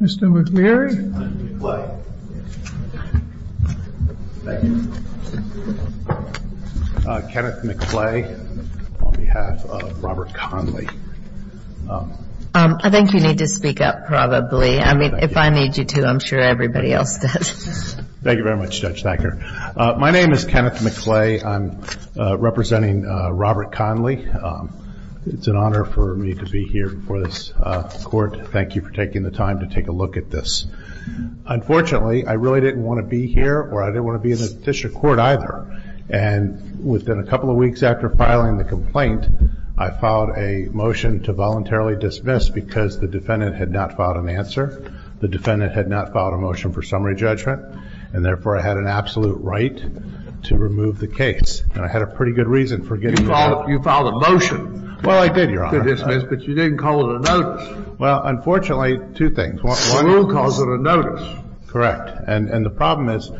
Mr. McLeary, I think you need to speak up probably, I mean if I need you to, I'm sure everybody else does. Thank you very much Judge Thacker. My name is Kenneth McLeary. I'm representing Robert Connelly. It's an honor for me to be here before this court. Thank you for taking the time to take a look at this. Unfortunately, I really didn't want to be here or I didn't want to be in the district court either. And within a couple of weeks after filing the complaint, I filed a motion to voluntarily dismiss because the defendant had not filed an answer. The defendant had not filed a motion for summary judgment, and therefore I had an absolute right to remove the case. And I had a pretty good reason for getting rid of it. You filed a motion to dismiss, but you didn't call it a notice. Well, unfortunately, two things. Well, you called it a notice. Correct. And the problem is,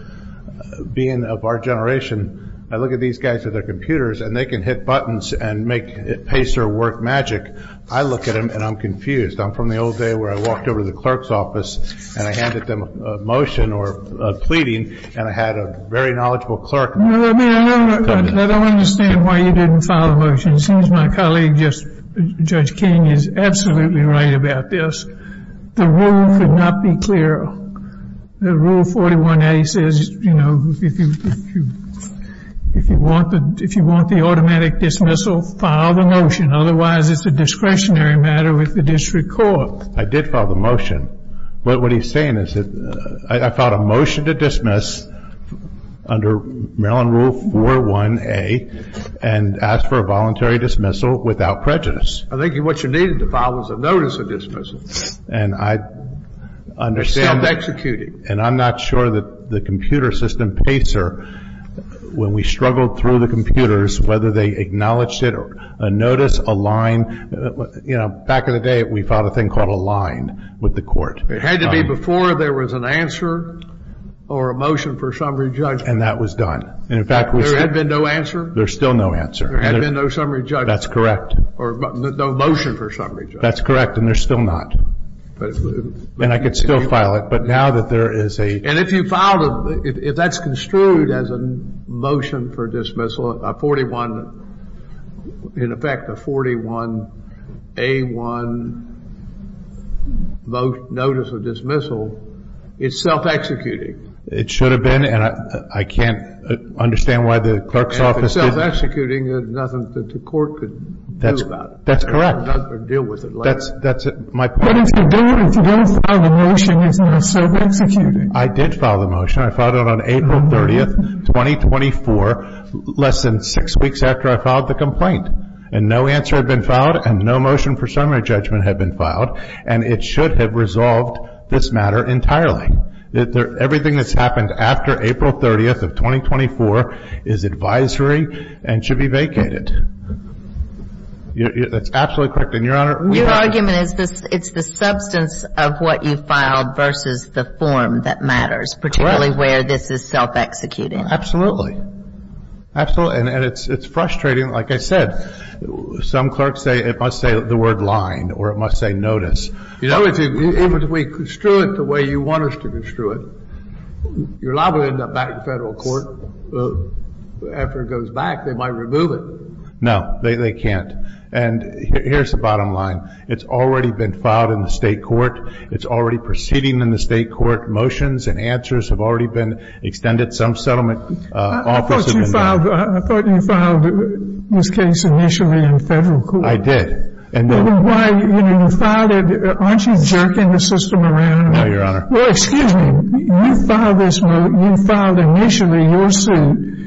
being of our generation, I look at these guys with their computers and they can hit buttons and make a pacer work magic. I look at them and I'm confused. I'm from the old day where I walked over to the clerk's office and I handed them a motion or a pleading and I had a very knowledgeable clerk. I don't understand why you didn't file a motion. It seems my colleague, Judge King, is absolutely right about this. The rule could not be clearer. The Rule 41A says, you know, if you want the automatic dismissal, file the motion. Otherwise, it's a discretionary matter with the district court. I did file the motion, but what he's saying is that I filed a motion to dismiss under Maryland Rule 41A and asked for a voluntary dismissal without prejudice. I think what you needed to file was a notice of dismissal. And I understand. And I'm not sure that the computer system pacer, when we struggled through the computers, whether they acknowledged it or a notice, a line. You know, back in the day, we filed a thing called a line with the court. It had to be before there was an answer or a motion for summary judgment. And that was done. There had been no answer? There's still no answer. There had been no summary judgment. That's correct. Or no motion for summary judgment. That's correct. And there's still not. And I could still file it. But now that there is a... And if you filed, if that's construed as a motion for dismissal, a 41, in effect, a 41A1 notice of dismissal, it's self-executing. It should have been. And I can't understand why the clerk's office... That's correct. Or deal with it later. That's my point. But if you don't file the motion, it's not self-executing. I did file the motion. I filed it on April 30, 2024, less than six weeks after I filed the complaint. And no answer had been filed and no motion for summary judgment had been filed. And it should have resolved this matter entirely. Everything that's happened after April 30 of 2024 is advisory and should be vacated. That's absolutely correct. And, Your Honor... Your argument is it's the substance of what you filed versus the form that matters. Correct. Particularly where this is self-executing. Absolutely. Absolutely. And it's frustrating. Like I said, some clerks say it must say the word line or it must say notice. You know, if we construe it the way you want us to construe it, you're liable to end up back in Federal court. After it goes back, they might remove it. They can't. And here's the bottom line. It's already been filed in the State court. It's already proceeding in the State court. Motions and answers have already been extended. Some settlement offices have been there. I thought you filed this case initially in Federal court. I did. Why? You filed it. Aren't you jerking the system around? No, Your Honor. Well, excuse me. You filed initially your suit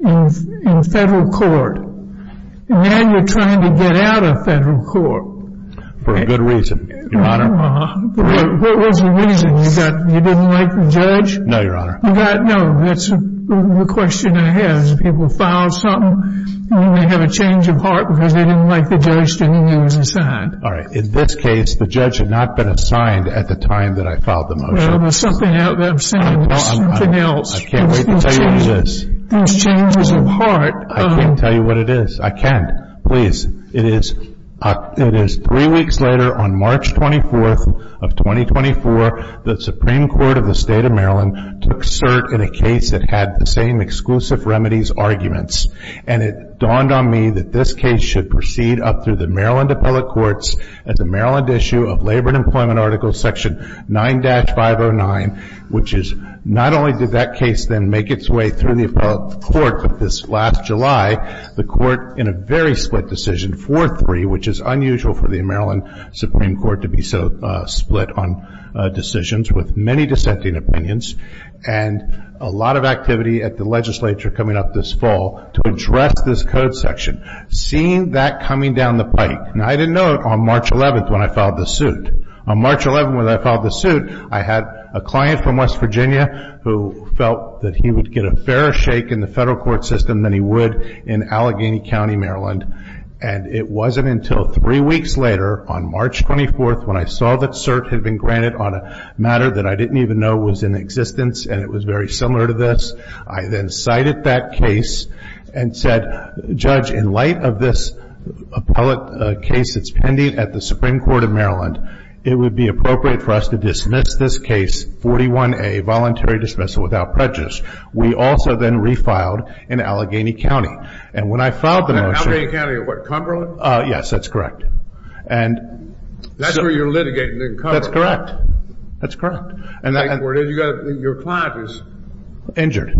in Federal court, and now you're trying to get out of Federal court. For a good reason, Your Honor. What was the reason? You didn't like the judge? No, Your Honor. No, that's the question I have. People file something, and they have a change of heart because they didn't like the judge, and he was assigned. All right. In this case, the judge had not been assigned at the time that I filed the motion. Well, there's something out there. I'm saying there's something else. I can't wait to tell you what it is. There's changes of heart. I can't tell you what it is. I can't. Please. It is three weeks later, on March 24th of 2024, the Supreme Court of the State of Maryland took cert in a case that had the same exclusive remedies arguments, and it dawned on me that this case should proceed up through the Maryland appellate courts at the Maryland issue of Labor and Employment Article section 9-509, which is not only did that case then make its way through the appellate court, but this last July the court in a very split decision, 4-3, which is unusual for the Maryland Supreme Court to be so split on decisions with many dissenting opinions, and a lot of activity at the legislature coming up this fall to address this code section. Seeing that coming down the pike, and I didn't know it on March 11th when I filed the suit. On March 11th when I filed the suit, I had a client from West Virginia who felt that he would get a fairer shake in the federal court system than he would in Allegheny County, Maryland, and it wasn't until three weeks later on March 24th when I saw that cert had been granted on a matter that I didn't even know was in existence and it was very similar to this. I then cited that case and said, Judge, in light of this appellate case that's pending at the Supreme Court of Maryland, it would be appropriate for us to dismiss this case 41A, Voluntary Dismissal Without Prejudice. We also then refiled in Allegheny County. And when I filed the motion... Allegheny County, what, Cumberland? Yes, that's correct. That's where you're litigating in Cumberland? That's correct. That's correct. Your client is... Injured,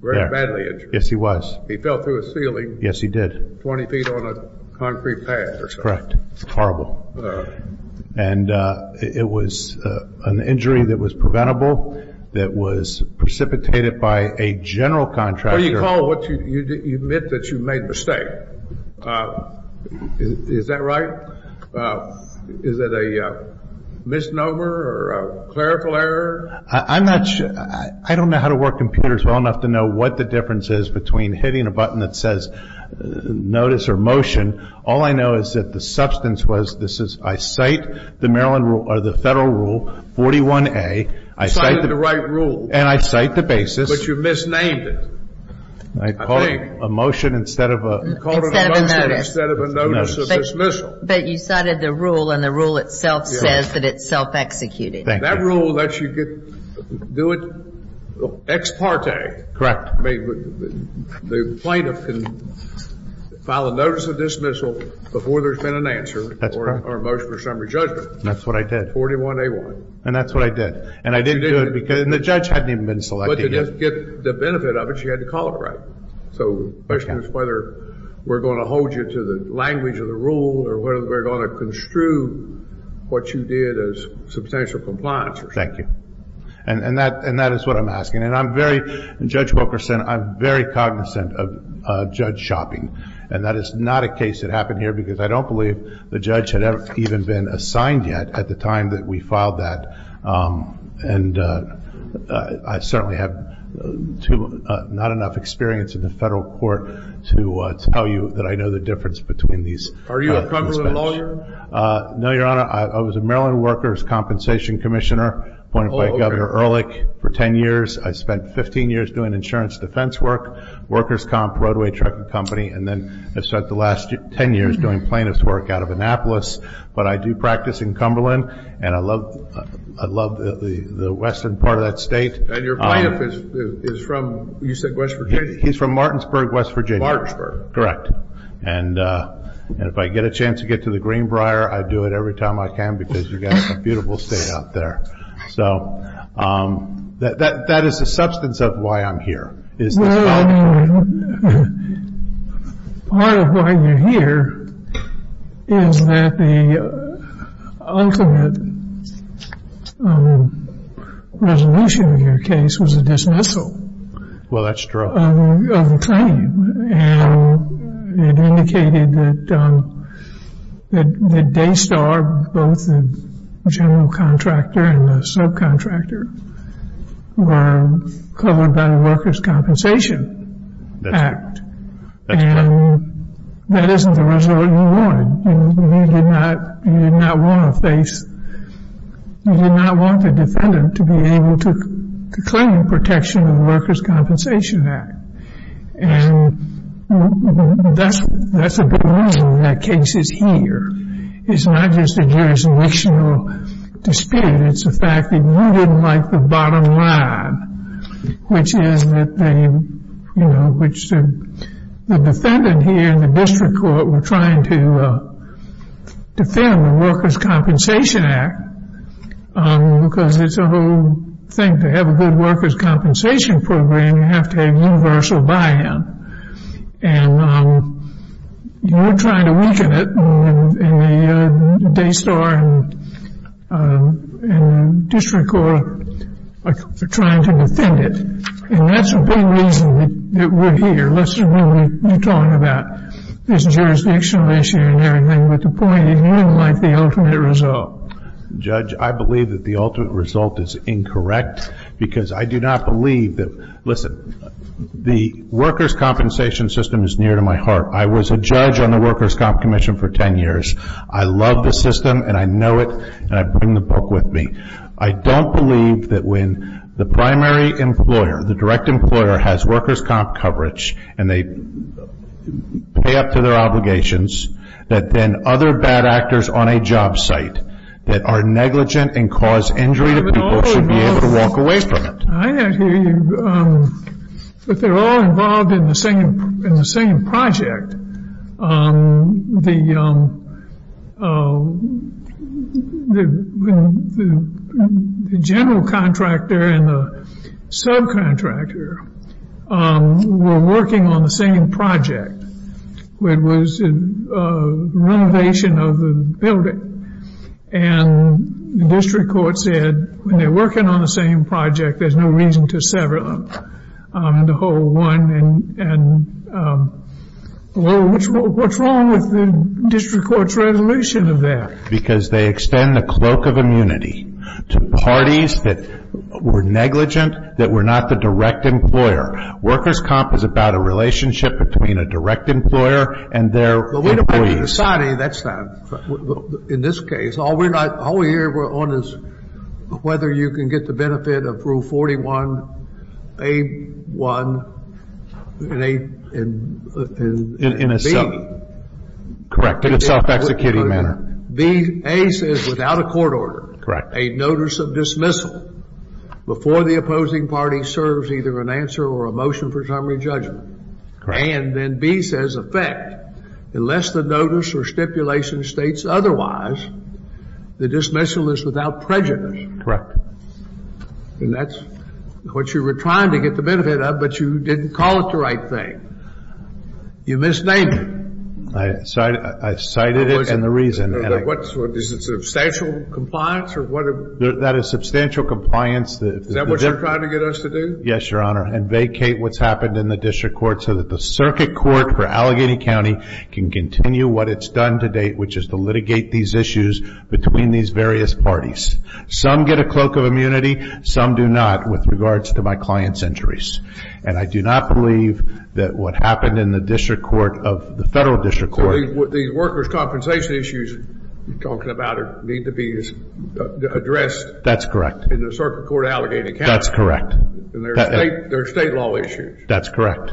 very badly injured. Yes, he was. He fell through a ceiling... Yes, he did. ...20 feet on a concrete pad or something. Correct. Horrible. And it was an injury that was preventable, that was precipitated by a general contractor... You admit that you made a mistake. Is that right? Is it a misnomer or a clerical error? I'm not sure. I don't know how to work computers well enough to know what the difference is between hitting a button that says notice or motion. All I know is that the substance was this is, I cite the Maryland rule or the federal rule 41A. You cited the right rule. And I cite the basis. But you misnamed it, I think. I called it a motion instead of a... You called it a motion instead of a notice of dismissal. But you cited the rule and the rule itself says that it's self-executed. That rule lets you do it ex parte. Correct. The plaintiff can file a notice of dismissal before there's been an answer or a motion or summary judgment. That's what I did. 41A1. And that's what I did. And I didn't do it because the judge hadn't even been selected yet. But to get the benefit of it, she had to call it right. So the question is whether we're going to hold you to the language of the rule or whether we're going to construe what you did as substantial compliance. Thank you. And that is what I'm asking. And I'm very, Judge Wilkerson, I'm very cognizant of judge shopping. And that is not a case that happened here because I don't believe the judge had even been assigned yet at the time that we filed that. And I certainly have not enough experience in the federal court to tell you that I know the difference between these. Are you a Cumberland lawyer? No, Your Honor. I was a Maryland workers' compensation commissioner appointed by Governor Ehrlich for 10 years. I spent 15 years doing insurance defense work, workers' comp, roadway trucking company, and then spent the last 10 years doing plaintiff's work out of Annapolis. But I do practice in Cumberland, and I love the western part of that state. And your plaintiff is from, you said, West Virginia? He's from Martinsburg, West Virginia. Martinsburg. Correct. And if I get a chance to get to the Greenbrier, I do it every time I can because you've got a beautiful state out there. So that is the substance of why I'm here. Well, part of why you're here is that the ultimate resolution of your case was a dismissal of the claim. And it indicated that Daystar, both the general contractor and the subcontractor, were covered by the Workers' Compensation Act. That's correct. And that isn't the result you wanted. You did not want to face, you did not want the defendant to be able to claim protection of the Workers' Compensation Act. And that's a big reason that case is here. It's not just a jurisdictional dispute. It's the fact that you didn't like the bottom line, which is that the defendant here in the district court were trying to defend the Workers' Compensation Act because it's a whole thing. To have a good workers' compensation program, you have to have universal buy-in. And you were trying to weaken it in the Daystar district court for trying to defend it. And that's a big reason that we're here. You're talking about this jurisdictional issue and everything, but the point is you didn't like the ultimate result. Judge, I believe that the ultimate result is incorrect because I do not believe that, listen, the workers' compensation system is near to my heart. I was a judge on the Workers' Comp Commission for 10 years. I love the system, and I know it, and I bring the book with me. I don't believe that when the primary employer, the direct employer, has workers' comp coverage and they pay up to their obligations, that then other bad actors on a job site that are negligent and cause injury to people should be able to walk away from it. I hear you, but they're all involved in the same project. The general contractor and the subcontractor were working on the same project. It was a renovation of a building, and the district court said, when they're working on the same project, there's no reason to sever the whole one. And what's wrong with the district court's resolution of that? Because they extend the cloak of immunity to parties that were negligent, that were not the direct employer. Workers' comp is about a relationship between a direct employer and their employees. In this case, all we're hearing on is whether you can get the benefit of Rule 41A-1 in a self-executing manner. A says, without a court order, a notice of dismissal, before the opposing party serves either an answer or a motion for summary judgment. Correct. And then B says, effect, unless the notice or stipulation states otherwise, the dismissal is without prejudice. Correct. And that's what you were trying to get the benefit of, but you didn't call it the right thing. You misnamed it. I cited it in the reason. Is it substantial compliance or what? That is substantial compliance. Is that what you're trying to get us to do? Yes, Your Honor. And vacate what's happened in the district court so that the circuit court for Allegheny County can continue what it's done to date, which is to litigate these issues between these various parties. Some get a cloak of immunity, some do not, with regards to my client's injuries. And I do not believe that what happened in the district court of the federal district court. The workers' compensation issues you're talking about need to be addressed. That's correct. In the circuit court of Allegheny County. That's correct. And there are state law issues. That's correct.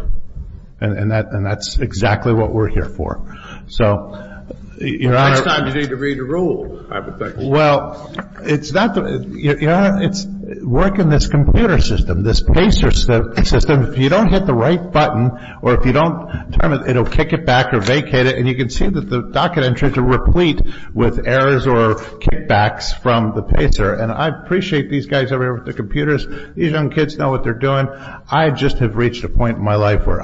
And that's exactly what we're here for. So, Your Honor. Next time you need to read the rules, I would think. Well, it's not the – Your Honor, it's working this computer system, this PACER system. If you don't hit the right button or if you don't turn it, it will kick it back or vacate it. And you can see that the docket entries are replete with errors or kickbacks from the PACER. And I appreciate these guys over here with the computers. These young kids know what they're doing. I just have reached a point in my life where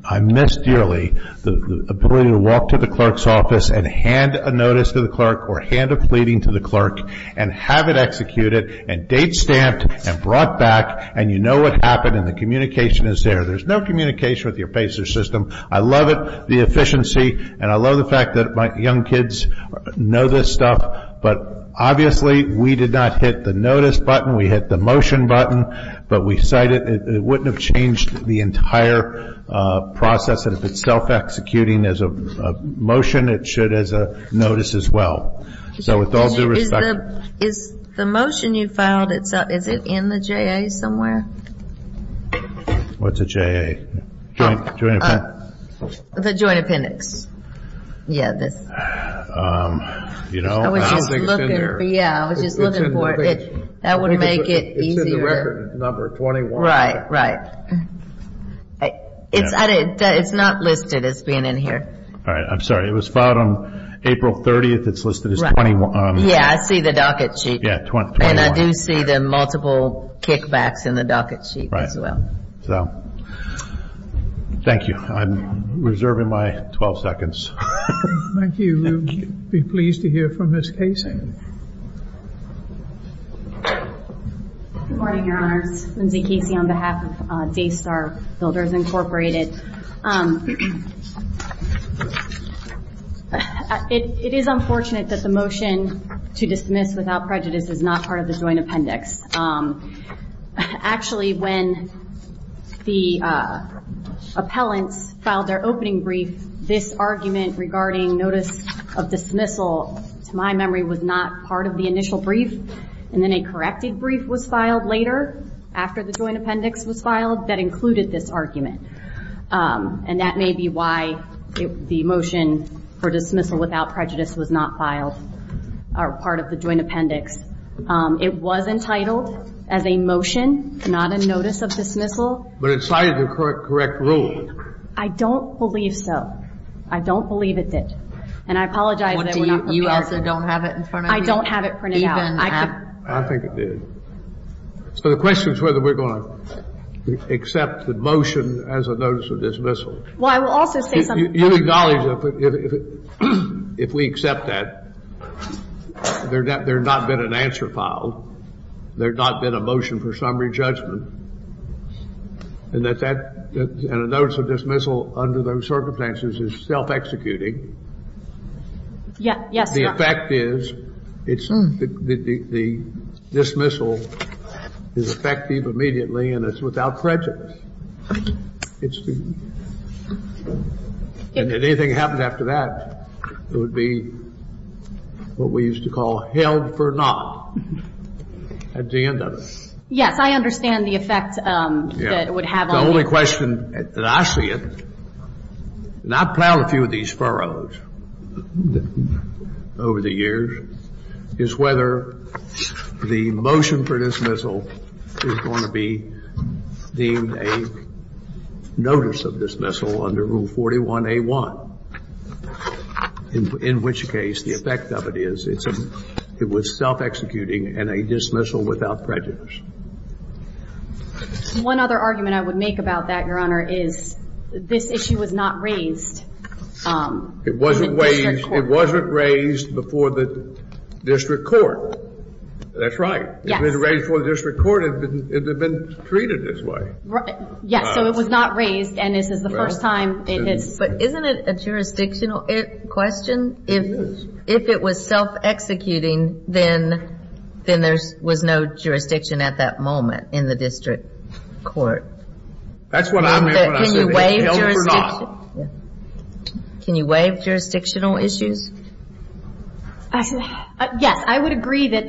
I miss dearly the ability to walk to the clerk's office and hand a notice to the clerk or hand a pleading to the clerk and have it executed and date stamped and brought back and you know what happened and the communication is there. There's no communication with your PACER system. I love it, the efficiency, and I love the fact that my young kids know this stuff. But obviously, we did not hit the notice button. We hit the motion button. But we cited – it wouldn't have changed the entire process. And if it's self-executing as a motion, it should as a notice as well. So, with all due respect – Is the motion you filed, is it in the JA somewhere? What's a JA? The Joint Appendix. Yeah, this. I was just looking for it. That would make it easier. It's in the record number, 21. Right, right. It's not listed as being in here. All right, I'm sorry. It was filed on April 30th. It's listed as 21. Yeah, I see the docket sheet. Yeah, 21. And I do see the multiple kickbacks in the docket sheet as well. Right. So, thank you. I'm reserving my 12 seconds. Thank you. We'd be pleased to hear from Ms. Casey. Good morning, Your Honors. Lindsay Casey on behalf of Daystar Builders, Incorporated. It is unfortunate that the motion to dismiss without prejudice is not part of the Joint Appendix. Actually, when the appellants filed their opening brief, this argument regarding notice of dismissal, to my memory, was not part of the initial brief. And then a corrected brief was filed later, after the Joint Appendix was filed, that included this argument. And that may be why the motion for dismissal without prejudice was not part of the Joint Appendix. It was entitled as a motion, not a notice of dismissal. But it cited the correct rule. I don't believe so. I don't believe it did. And I apologize that we're not prepared. You also don't have it in front of you? I don't have it printed out. I think it did. So the question is whether we're going to accept the motion as a notice of dismissal. Well, I will also say something. You acknowledge that if we accept that, there had not been an answer filed. There had not been a motion for summary judgment. And a notice of dismissal under those circumstances is self-executing. Yes, Your Honor. The effect is the dismissal is effective immediately, and it's without prejudice. And if anything happened after that, it would be what we used to call held for not at the end of it. Yes, I understand the effect that it would have on me. The only question that I see it, and I've plowed a few of these furrows over the years, is whether the motion for dismissal is going to be deemed a notice of dismissal under Rule 41A.1, in which case the effect of it is it was self-executing and a dismissal without prejudice. One other argument I would make about that, Your Honor, is this issue was not raised. It wasn't raised before the district court. That's right. If it had been raised before the district court, it would have been treated this way. Yes, so it was not raised, and this is the first time it is. But isn't it a jurisdictional question? It is. If it was self-executing, then there was no jurisdiction at that moment in the district court. That's what I meant when I said it was held for not. Can you waive jurisdictional issues? Yes. I would agree that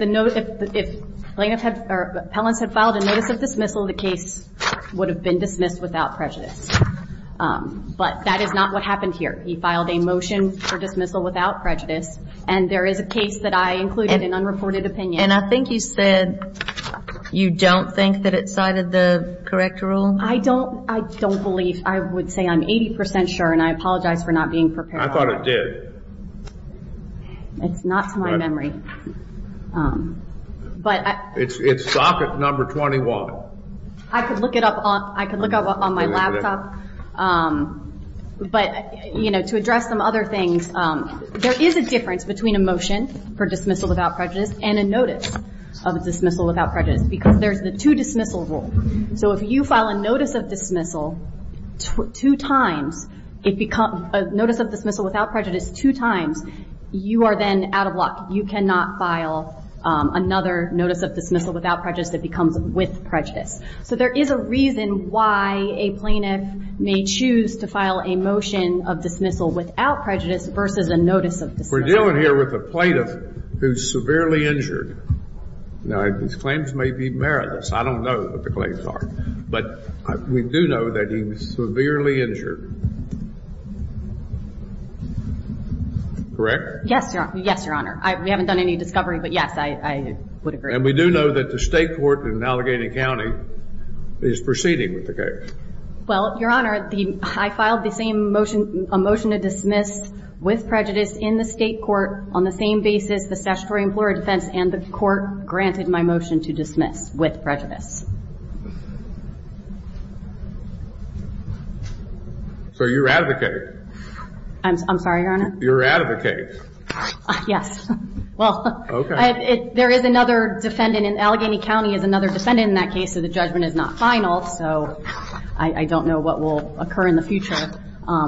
if appellants had filed a notice of dismissal, the case would have been dismissed without prejudice. But that is not what happened here. He filed a motion for dismissal without prejudice, and there is a case that I included in unreported opinion. And I think you said you don't think that it cited the correct rule? I don't believe. I would say I'm 80% sure, and I apologize for not being prepared. I thought it did. It's not to my memory. It's socket number 21. I could look it up on my laptop. But, you know, to address some other things, there is a difference between a motion for dismissal without prejudice and a notice of dismissal without prejudice because there's the two dismissal rules. So if you file a notice of dismissal two times, a notice of dismissal without prejudice two times, you are then out of luck. You cannot file another notice of dismissal without prejudice that becomes with prejudice. So there is a reason why a plaintiff may choose to file a motion of dismissal without prejudice versus a notice of dismissal. We're dealing here with a plaintiff who's severely injured. Now, his claims may be meritless. I don't know what the claims are, but we do know that he was severely injured. Correct? Yes, Your Honor. We haven't done any discovery, but, yes, I would agree. And we do know that the state court in Allegheny County is proceeding with the case. Well, Your Honor, I filed the same motion, a motion to dismiss with prejudice in the state court on the same basis the statutory employer defense and the court granted my motion to dismiss with prejudice. So you're out of the case? I'm sorry, Your Honor? You're out of the case. Yes. Well, there is another defendant in Allegheny County is another defendant in that case, so the judgment is not final. So I don't know what will occur in the future.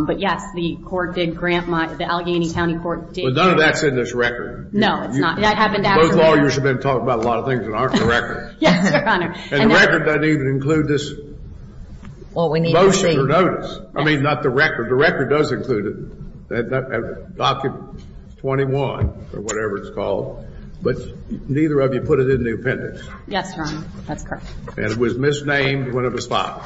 But, yes, the court did grant my the Allegheny County court did grant my motion. Well, none of that's in this record. No, it's not. Those lawyers have been talking about a lot of things that aren't in the record. Yes, Your Honor. And the record doesn't even include this motion or notice. I mean, not the record. The record does include it. Document 21 or whatever it's called. But neither of you put it in the appendix. Yes, Your Honor. That's correct. And it was misnamed when it was filed.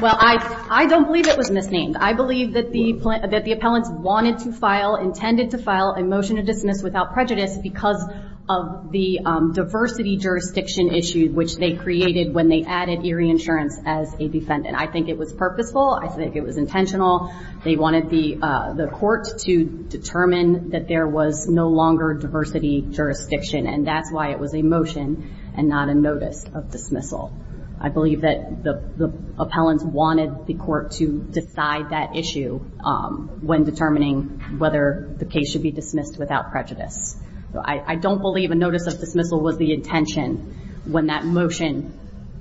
Well, I don't believe it was misnamed. I believe that the appellants wanted to file, intended to file a motion to dismiss without prejudice because of the diversity jurisdiction issue, which they created when they added Erie Insurance as a defendant. I think it was purposeful. I think it was intentional. They wanted the court to determine that there was no longer diversity jurisdiction, and that's why it was a motion and not a notice of dismissal. I believe that the appellants wanted the court to decide that issue when determining whether the case should be dismissed without prejudice. I don't believe a notice of dismissal was the intention when that motion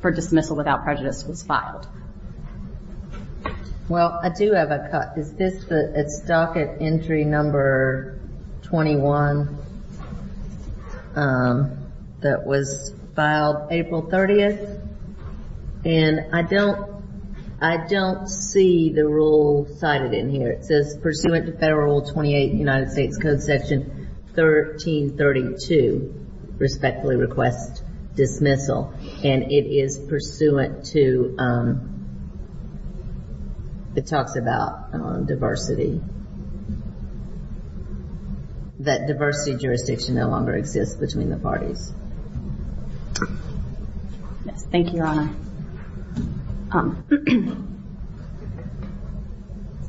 for dismissal without prejudice was filed. Well, I do have a cut. Is this the docket entry number 21 that was filed April 30th? And I don't see the rule cited in here. It says, pursuant to Federal Rule 28, United States Code Section 1332, respectfully request dismissal. And it is pursuant to, it talks about diversity, that diversity jurisdiction no longer exists between the parties. Yes, thank you, Your Honor.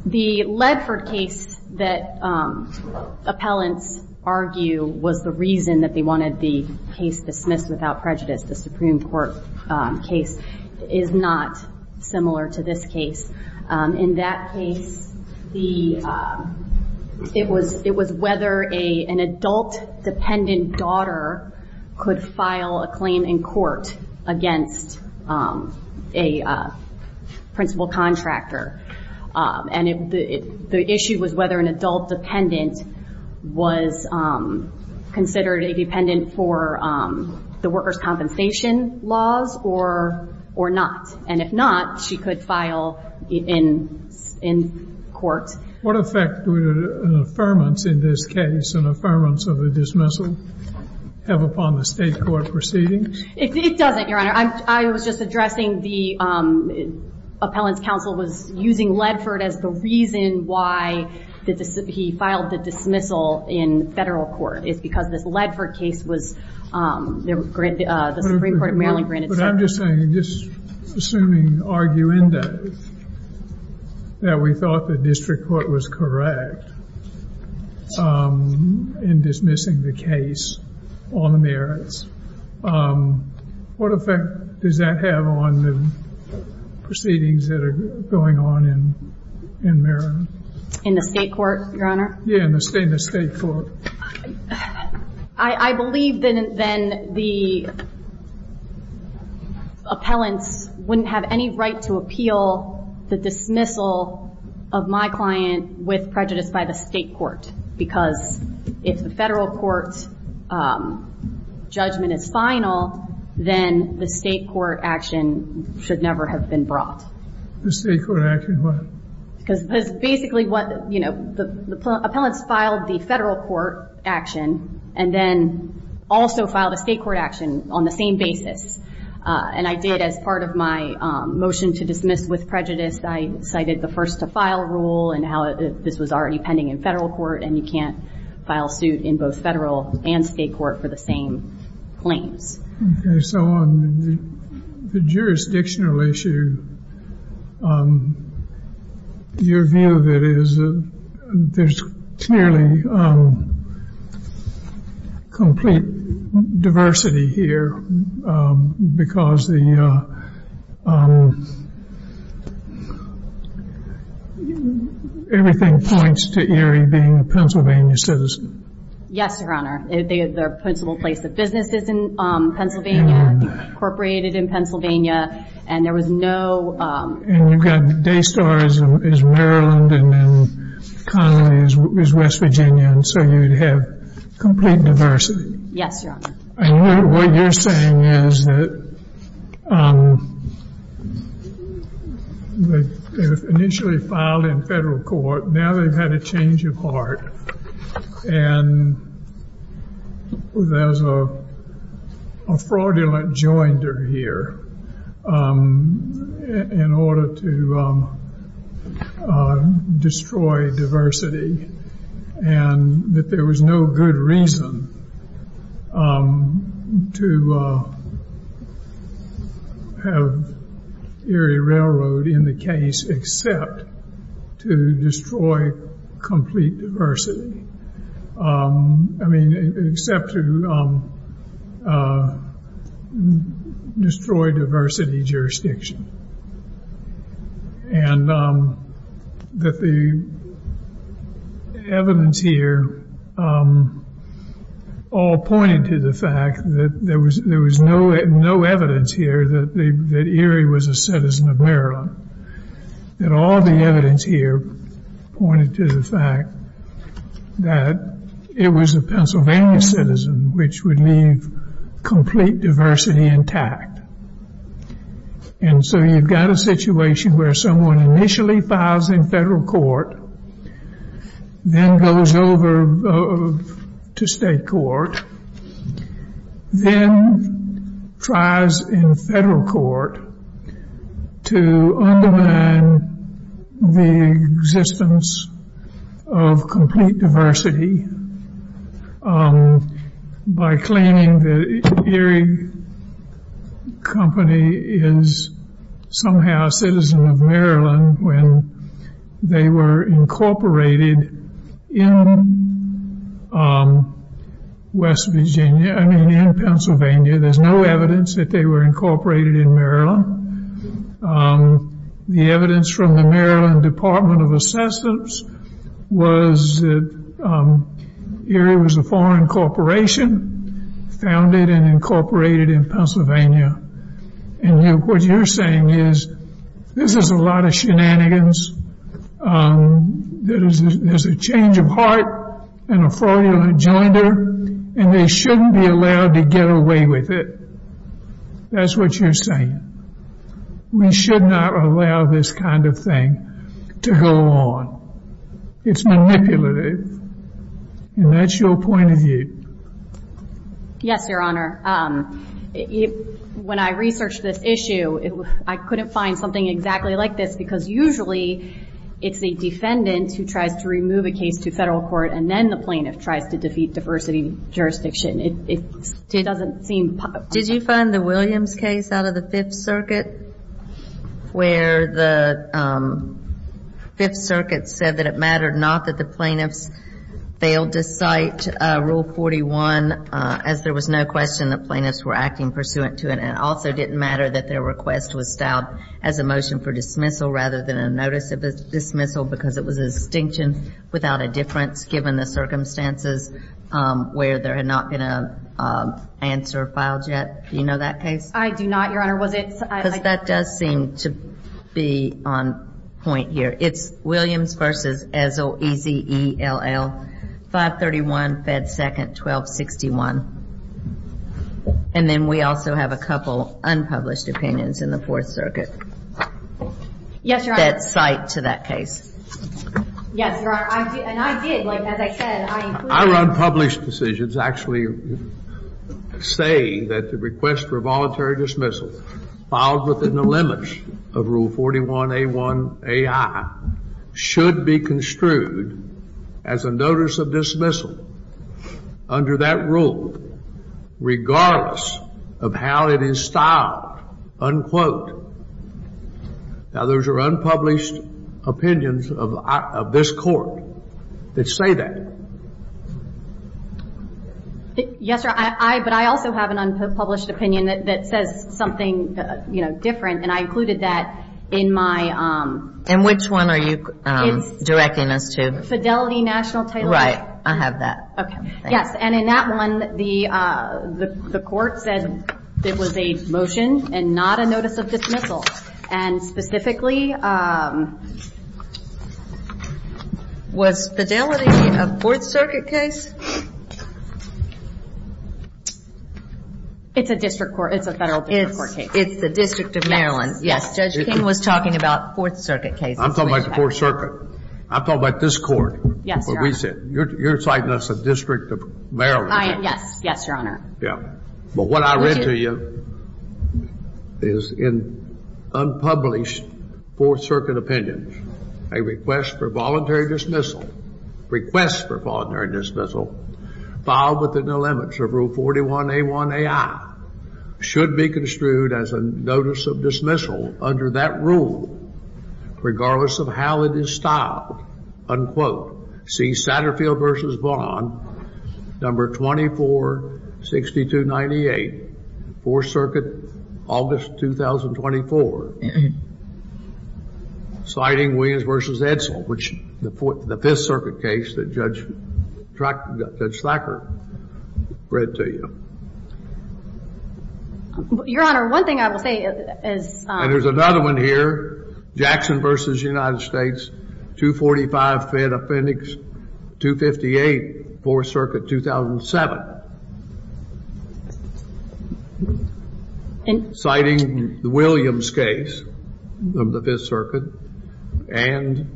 The Ledford case that appellants argue was the reason that they wanted the case dismissed without prejudice, the Supreme Court case, is not similar to this case. In that case, it was whether an adult dependent daughter could file a claim in court against a principal contractor. And the issue was whether an adult dependent was considered a dependent for the workers' compensation laws or not. And if not, she could file in court. What effect would an affirmance in this case, an affirmance of a dismissal, have upon the state court proceedings? It doesn't, Your Honor. I was just addressing the appellant's counsel was using Ledford as the reason why he filed the dismissal in federal court. It's because this Ledford case was the Supreme Court of Maryland granted. But I'm just saying, just assuming arguendo that we thought the district court was correct in dismissing the case on the merits, what effect does that have on the proceedings that are going on in Maryland? In the state court, Your Honor? Yeah, in the state court. I believe then the appellants wouldn't have any right to appeal the dismissal of my client with prejudice by the state court. Because if the federal court's judgment is final, then the state court action should never have been brought. The state court action, what? Because basically what, you know, the appellants filed the federal court action and then also filed a state court action on the same basis. And I did, as part of my motion to dismiss with prejudice, I cited the first to file rule and how this was already pending in federal court and you can't file suit in both federal and state court for the same claims. Okay, so on the jurisdictional issue, your view of it is there's clearly complete diversity here because everything points to Erie being a Pennsylvania citizen. Yes, Your Honor. Their principal place of business is in Pennsylvania, incorporated in Pennsylvania, and there was no... And you've got Daystar as Maryland and Connelly as West Virginia, and so you'd have complete diversity. Yes, Your Honor. And what you're saying is that they initially filed in federal court. Now they've had a change of heart and there's a fraudulent joinder here in order to destroy diversity and that there was no good reason to have Erie Railroad in the case except to destroy complete diversity. I mean, except to destroy diversity jurisdiction. And that the evidence here all pointed to the fact that there was no evidence here that Erie was a citizen of Maryland. And all the evidence here pointed to the fact that it was a Pennsylvania citizen which would leave complete diversity intact. And so you've got a situation where someone initially files in federal court, then goes over to state court, then tries in federal court to undermine the existence of complete diversity by claiming that Erie Company is somehow a citizen of Maryland when they were incorporated in Pennsylvania. There's no evidence that they were incorporated in Maryland. The evidence from the Maryland Department of Assessments was that Erie was a foreign corporation founded and incorporated in Pennsylvania. And what you're saying is this is a lot of shenanigans. There's a change of heart and a fraudulent joinder and they shouldn't be allowed to get away with it. That's what you're saying. We should not allow this kind of thing to go on. It's manipulative. And that's your point of view. Yes, Your Honor. When I researched this issue, I couldn't find something exactly like this because usually it's the defendant who tries to remove a case to federal court and then the plaintiff tries to defeat diversity jurisdiction. It doesn't seem possible. Did you find the Williams case out of the Fifth Circuit, where the Fifth Circuit said that it mattered not that the plaintiffs failed to cite Rule 41, as there was no question that plaintiffs were acting pursuant to it, and it also didn't matter that their request was styled as a motion for dismissal rather than a notice of dismissal because it was a distinction without a difference, given the circumstances where they're not going to answer filed yet. Do you know that case? I do not, Your Honor. Was it? Because that does seem to be on point here. It's Williams versus Ezell, E-Z-E-L-L, 531, Fed 2nd, 1261. And then we also have a couple unpublished opinions in the Fourth Circuit that cite to that case. Yes, Your Honor. And I did. Like, as I said, I included them. Our unpublished decisions actually say that the request for voluntary dismissal filed within the limits of Rule 41A1AI should be construed as a notice of dismissal under that rule, regardless of how it is styled, unquote. Now, those are unpublished opinions of this Court that say that. Yes, Your Honor. But I also have an unpublished opinion that says something, you know, different, and I included that in my – In which one are you directing us to? Fidelity National Title – Right. I have that. Okay. Thanks. And in that one, the Court said it was a motion and not a notice of dismissal. And specifically – Was Fidelity a Fourth Circuit case? It's a district court. It's a federal district court case. It's the District of Maryland. Yes. Yes. Judge King was talking about Fourth Circuit cases. I'm talking about the Fourth Circuit. I'm talking about this Court. Yes, Your Honor. You're citing us a District of Maryland. Yes. Yes, Your Honor. Yeah. But what I read to you is in unpublished Fourth Circuit opinions, a request for voluntary dismissal – request for voluntary dismissal filed within the limits of Rule 41A1AI should be construed as a notice of dismissal under that rule, regardless of how it is styled, unquote. See Satterfield v. Vaughn, No. 246298, Fourth Circuit, August 2024. Citing Williams v. Edsel, which the Fifth Circuit case that Judge Thacker read to you. Your Honor, one thing I will say is – and there's another one here, Jackson v. United States, 245 Fed Offendix 258, Fourth Circuit, 2007. Citing the Williams case of the Fifth Circuit and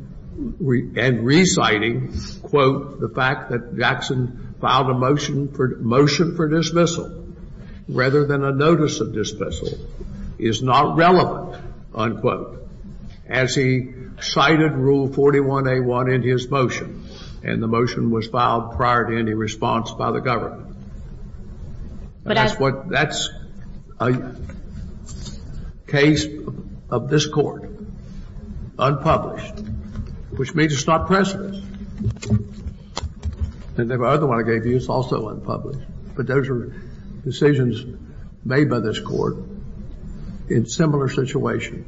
reciting, quote, the fact that Jackson filed a motion for dismissal rather than a notice of dismissal is not relevant, unquote, as he cited Rule 41A1 in his motion. And the motion was filed prior to any response by the government. That's what – that's a case of this Court, unpublished, which means it's not present. And the other one I gave you is also unpublished. But those are decisions made by this Court in similar situations.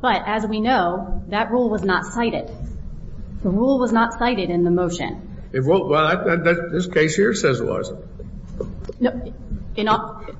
But as we know, that rule was not cited. The rule was not cited in the motion. Well, this case here says it wasn't. No.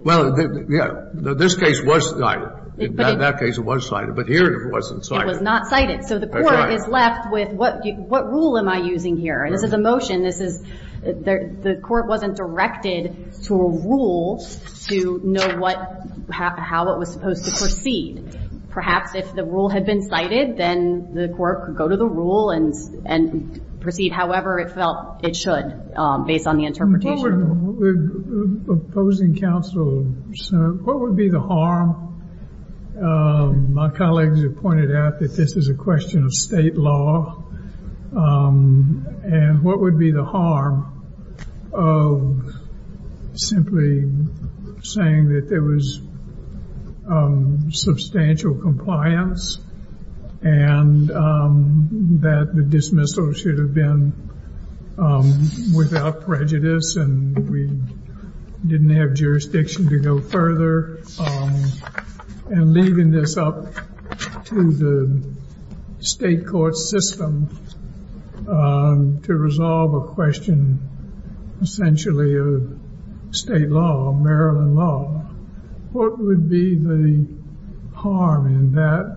Well, yeah. This case was cited. In that case it was cited. But here it wasn't cited. It was not cited. So the Court is left with what rule am I using here? This is a motion. This is – the Court wasn't directed to a rule to know what – how it was supposed to proceed. Perhaps if the rule had been cited, then the Court could go to the rule and proceed however it felt it should based on the interpretation. Opposing counsel, sir, what would be the harm? My colleagues have pointed out that this is a question of state law. And what would be the harm of simply saying that there was substantial compliance and that the dismissal should have been without prejudice and we didn't have jurisdiction to go further and leaving this up to the state court system to resolve a question essentially of state law, Maryland law. What would be the harm in that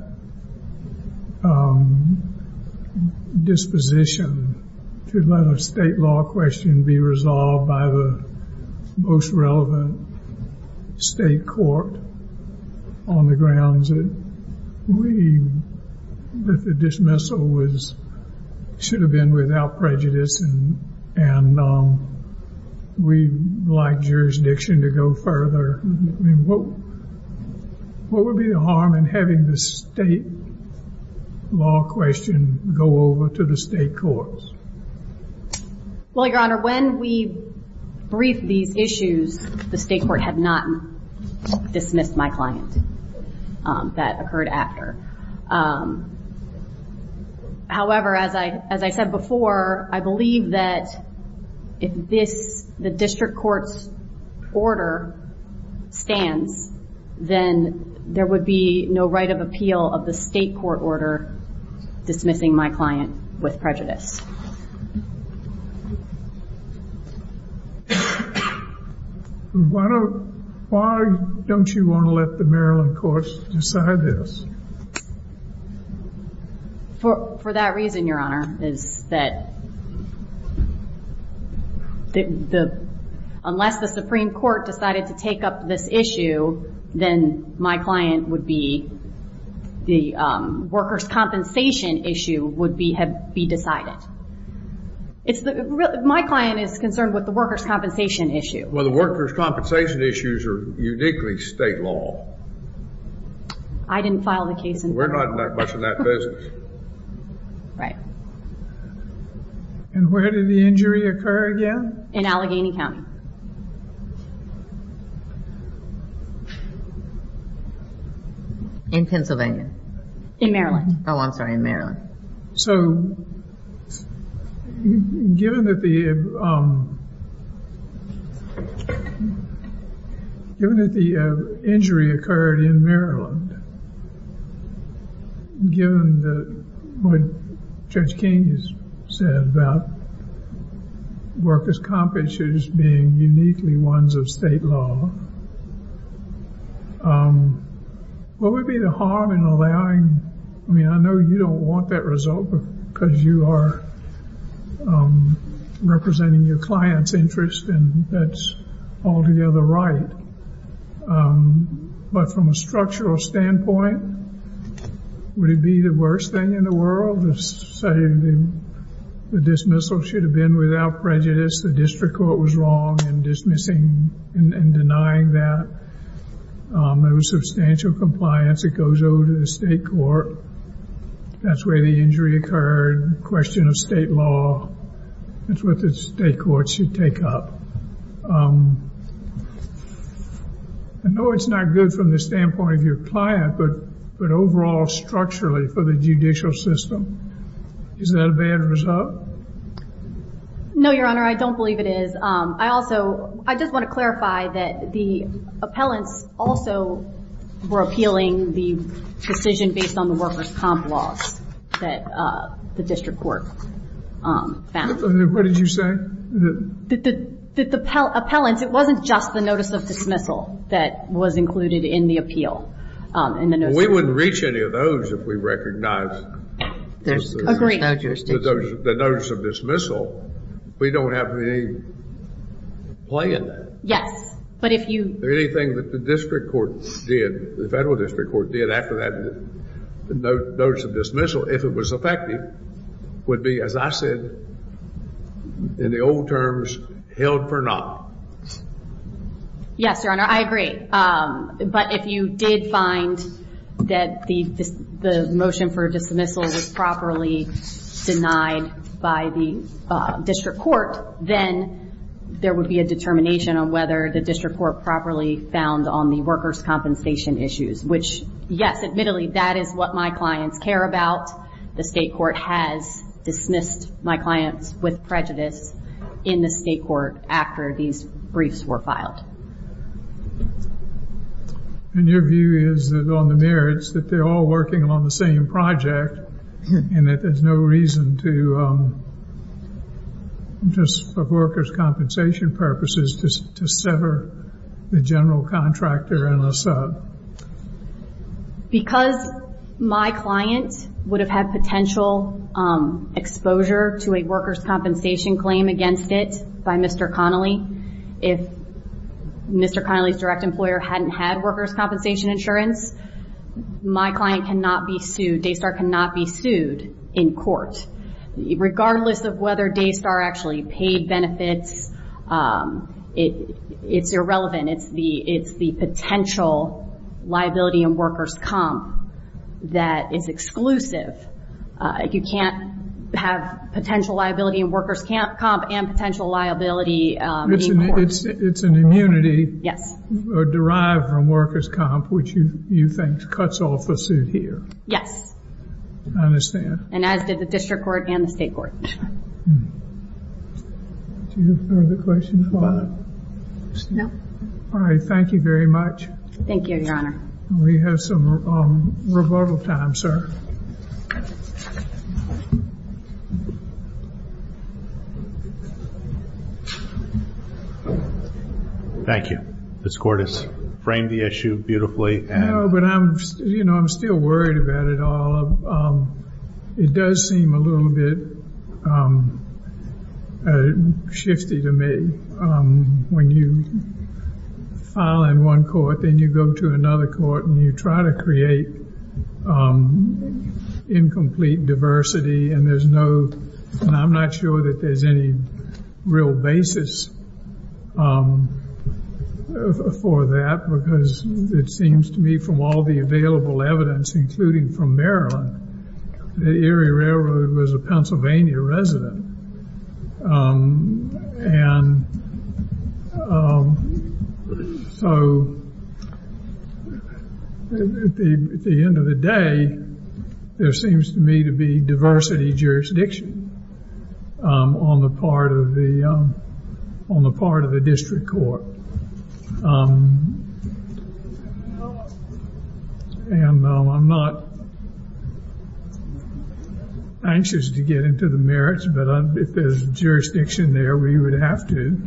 disposition to let a state law question be resolved by the most relevant state court on the grounds that the dismissal should have been without prejudice and we'd like jurisdiction to go further? I mean, what would be the harm in having the state law question go over to the state courts? Well, Your Honor, when we briefed these issues, the state court had not dismissed my client. That occurred after. However, as I said before, I believe that if the district court's order stands, then there would be no right of appeal of the state court order dismissing my client with prejudice. Why don't you want to let the Maryland courts decide this? For that reason, Your Honor, is that unless the Supreme Court decided to take up this issue, then my client would be, the workers' compensation issue would be decided. My client is concerned with the workers' compensation issue. Well, the workers' compensation issues are uniquely state law. I didn't file the case. We're not that much in that business. Right. And where did the injury occur again? In Allegheny County. In Pennsylvania. In Maryland. Oh, I'm sorry, in Maryland. So given that the injury occurred in Maryland, given what Judge King has said about workers' compensation issues being uniquely ones of state law, what would be the harm in allowing, I mean, I know you don't want that result because you are representing your client's interest, and that's altogether right. But from a structural standpoint, would it be the worst thing in the world to say the dismissal should have been without prejudice, the district court was wrong in dismissing and denying that? There was substantial compliance. It goes over to the state court. That's where the injury occurred. Question of state law. That's what the state court should take up. I know it's not good from the standpoint of your client, but overall structurally for the judicial system, is that a bad result? No, Your Honor, I don't believe it is. I just want to clarify that the appellants also were appealing the decision based on the workers' comp laws that the district court found. What did you say? The appellants, it wasn't just the notice of dismissal that was included in the appeal. We wouldn't reach any of those if we recognized the notice of dismissal. We don't have any play in that. Yes, but if you... If anything that the district court did, the federal district court did, after that notice of dismissal, if it was effective, would be, as I said in the old terms, held for not. Yes, Your Honor, I agree. But if you did find that the motion for dismissal was properly denied by the district court, then there would be a determination on whether the district court properly found on the workers' compensation issues, which, yes, admittedly, that is what my clients care about. The state court has dismissed my clients with prejudice in the state court after these briefs were filed. And your view is that on the merits, that they're all working on the same project and that there's no reason to, just for workers' compensation purposes, to sever the general contractor and the sub? Because my client would have had potential exposure to a workers' compensation claim against it by Mr. Connolly, if Mr. Connolly's direct employer hadn't had workers' compensation insurance, my client cannot be sued. Daystar cannot be sued in court. Regardless of whether Daystar actually paid benefits, it's irrelevant. It's the potential liability in workers' comp that is exclusive. You can't have potential liability in workers' comp and potential liability in the courts. It's an immunity derived from workers' comp, which you think cuts off the suit here. Yes. I understand. And as did the district court and the state court. Do you have further questions? No. All right, thank you very much. Thank you, Your Honor. We have some rebuttal time, sir. Thank you. Ms. Cordes framed the issue beautifully. No, but I'm still worried about it all. It does seem a little bit shifty to me. When you file in one court, then you go to another court, and you try to create incomplete diversity, and I'm not sure that there's any real basis for that, because it seems to me from all the available evidence, including from Maryland, the Erie Railroad was a Pennsylvania resident. And so at the end of the day, there seems to me to be diversity jurisdiction on the part of the district court. And I'm not anxious to get into the merits, but if there's jurisdiction there, we would have to.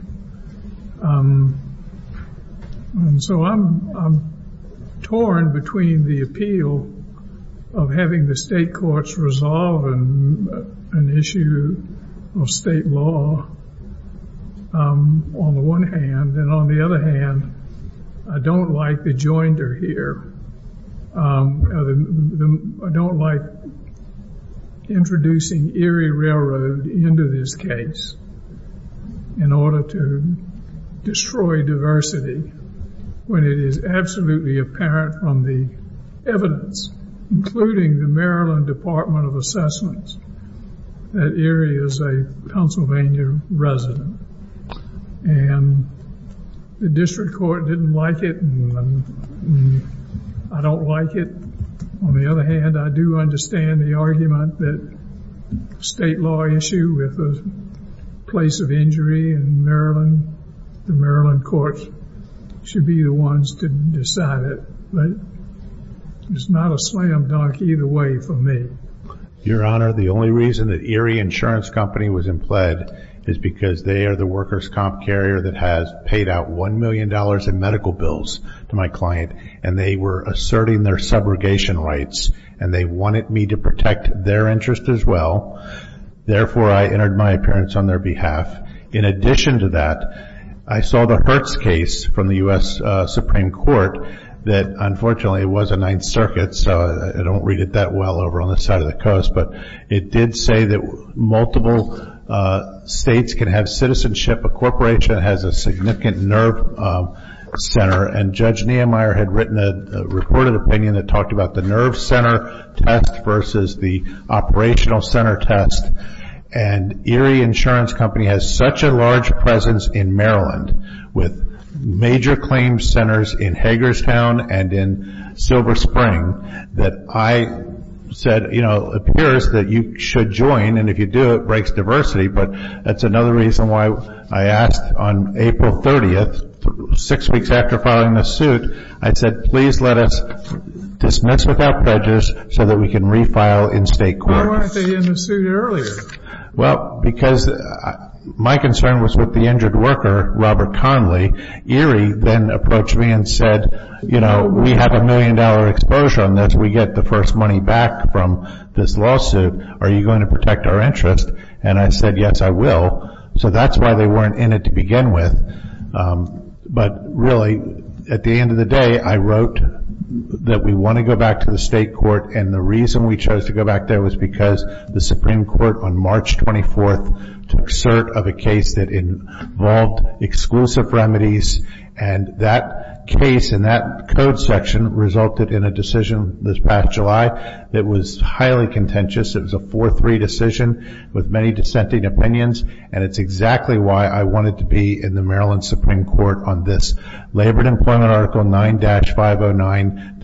And so I'm torn between the appeal of having the state courts resolve an issue of state law, on the one hand, and on the other hand, I don't like the joinder here. I don't like introducing Erie Railroad into this case in order to destroy diversity when it is absolutely apparent from the evidence, including the Maryland Department of Assessments, that Erie is a Pennsylvania resident. And the district court didn't like it, and I don't like it. On the other hand, I do understand the argument that a state law issue with a place of injury in Maryland, the Maryland courts should be the ones to decide it. But it's not a slam dunk either way for me. Your Honor, the only reason that Erie Insurance Company was in pled is because they are the workers' comp carrier that has paid out $1 million in medical bills to my client, and they were asserting their subrogation rights, and they wanted me to protect their interest as well. Therefore, I entered my appearance on their behalf. In addition to that, I saw the Hertz case from the U.S. Supreme Court, that unfortunately was a Ninth Circuit, so I don't read it that well over on the side of the coast, but it did say that multiple states can have citizenship. A corporation has a significant nerve center, and Judge Nehemiah had written a reported opinion that talked about the nerve center test versus the operational center test. And Erie Insurance Company has such a large presence in Maryland, with major claim centers in Hagerstown and in Silver Spring, that I said, you know, it appears that you should join, and if you do, it breaks diversity. But that's another reason why I asked on April 30th, six weeks after filing the suit, I said, please let us dismiss without pledges so that we can refile in state court. Why weren't they in the suit earlier? Well, because my concern was with the injured worker, Robert Conley. Erie then approached me and said, you know, we have a million dollar exposure on this. We get the first money back from this lawsuit. Are you going to protect our interest? And I said, yes, I will. So that's why they weren't in it to begin with. But really, at the end of the day, I wrote that we want to go back to the state court, and the reason we chose to go back there was because the Supreme Court on March 24th took cert of a case that involved exclusive remedies, and that case in that code section resulted in a decision this past July that was highly contentious. It was a 4-3 decision with many dissenting opinions, and it's exactly why I wanted to be in the Maryland Supreme Court on this Labor and Employment Article 9-509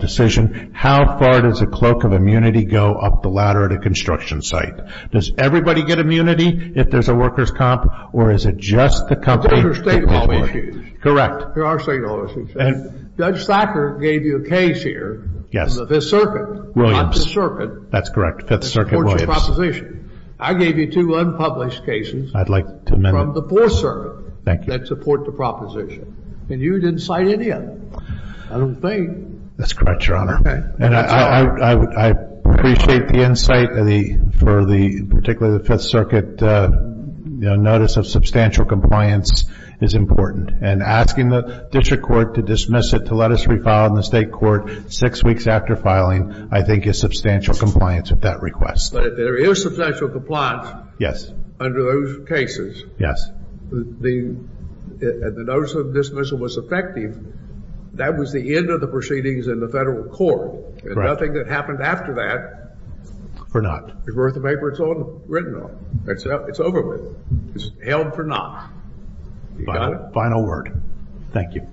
decision. How far does a cloak of immunity go up the ladder at a construction site? Does everybody get immunity if there's a workers' comp, or is it just the company? It's under state law issues. Correct. They are state law issues. And Judge Thacker gave you a case here. Yes. In the Fifth Circuit. Williams. Not the circuit. That's correct. Fifth Circuit, Williams. That supports your proposition. I gave you two unpublished cases. I'd like to amend them. From the Fourth Circuit. Thank you. That support the proposition. And you didn't cite any of them. I don't think. That's correct, Your Honor. Okay. And I appreciate the insight for the, particularly the Fifth Circuit, notice of substantial compliance is important. And asking the district court to dismiss it, to let us refile it in the state court six weeks after filing, I think is substantial compliance with that request. But if there is substantial compliance. Yes. Under those cases. Yes. And the notice of dismissal was effective. That was the end of the proceedings in the federal court. Correct. And nothing that happened after that. Or not. Is worth a paper. It's all written off. It's over with. It's held for not. You got it? Final word. Thank you.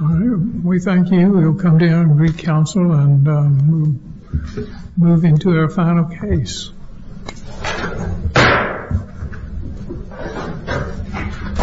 All right. We thank you. We'll come down and read counsel and move into our final case. Thank you.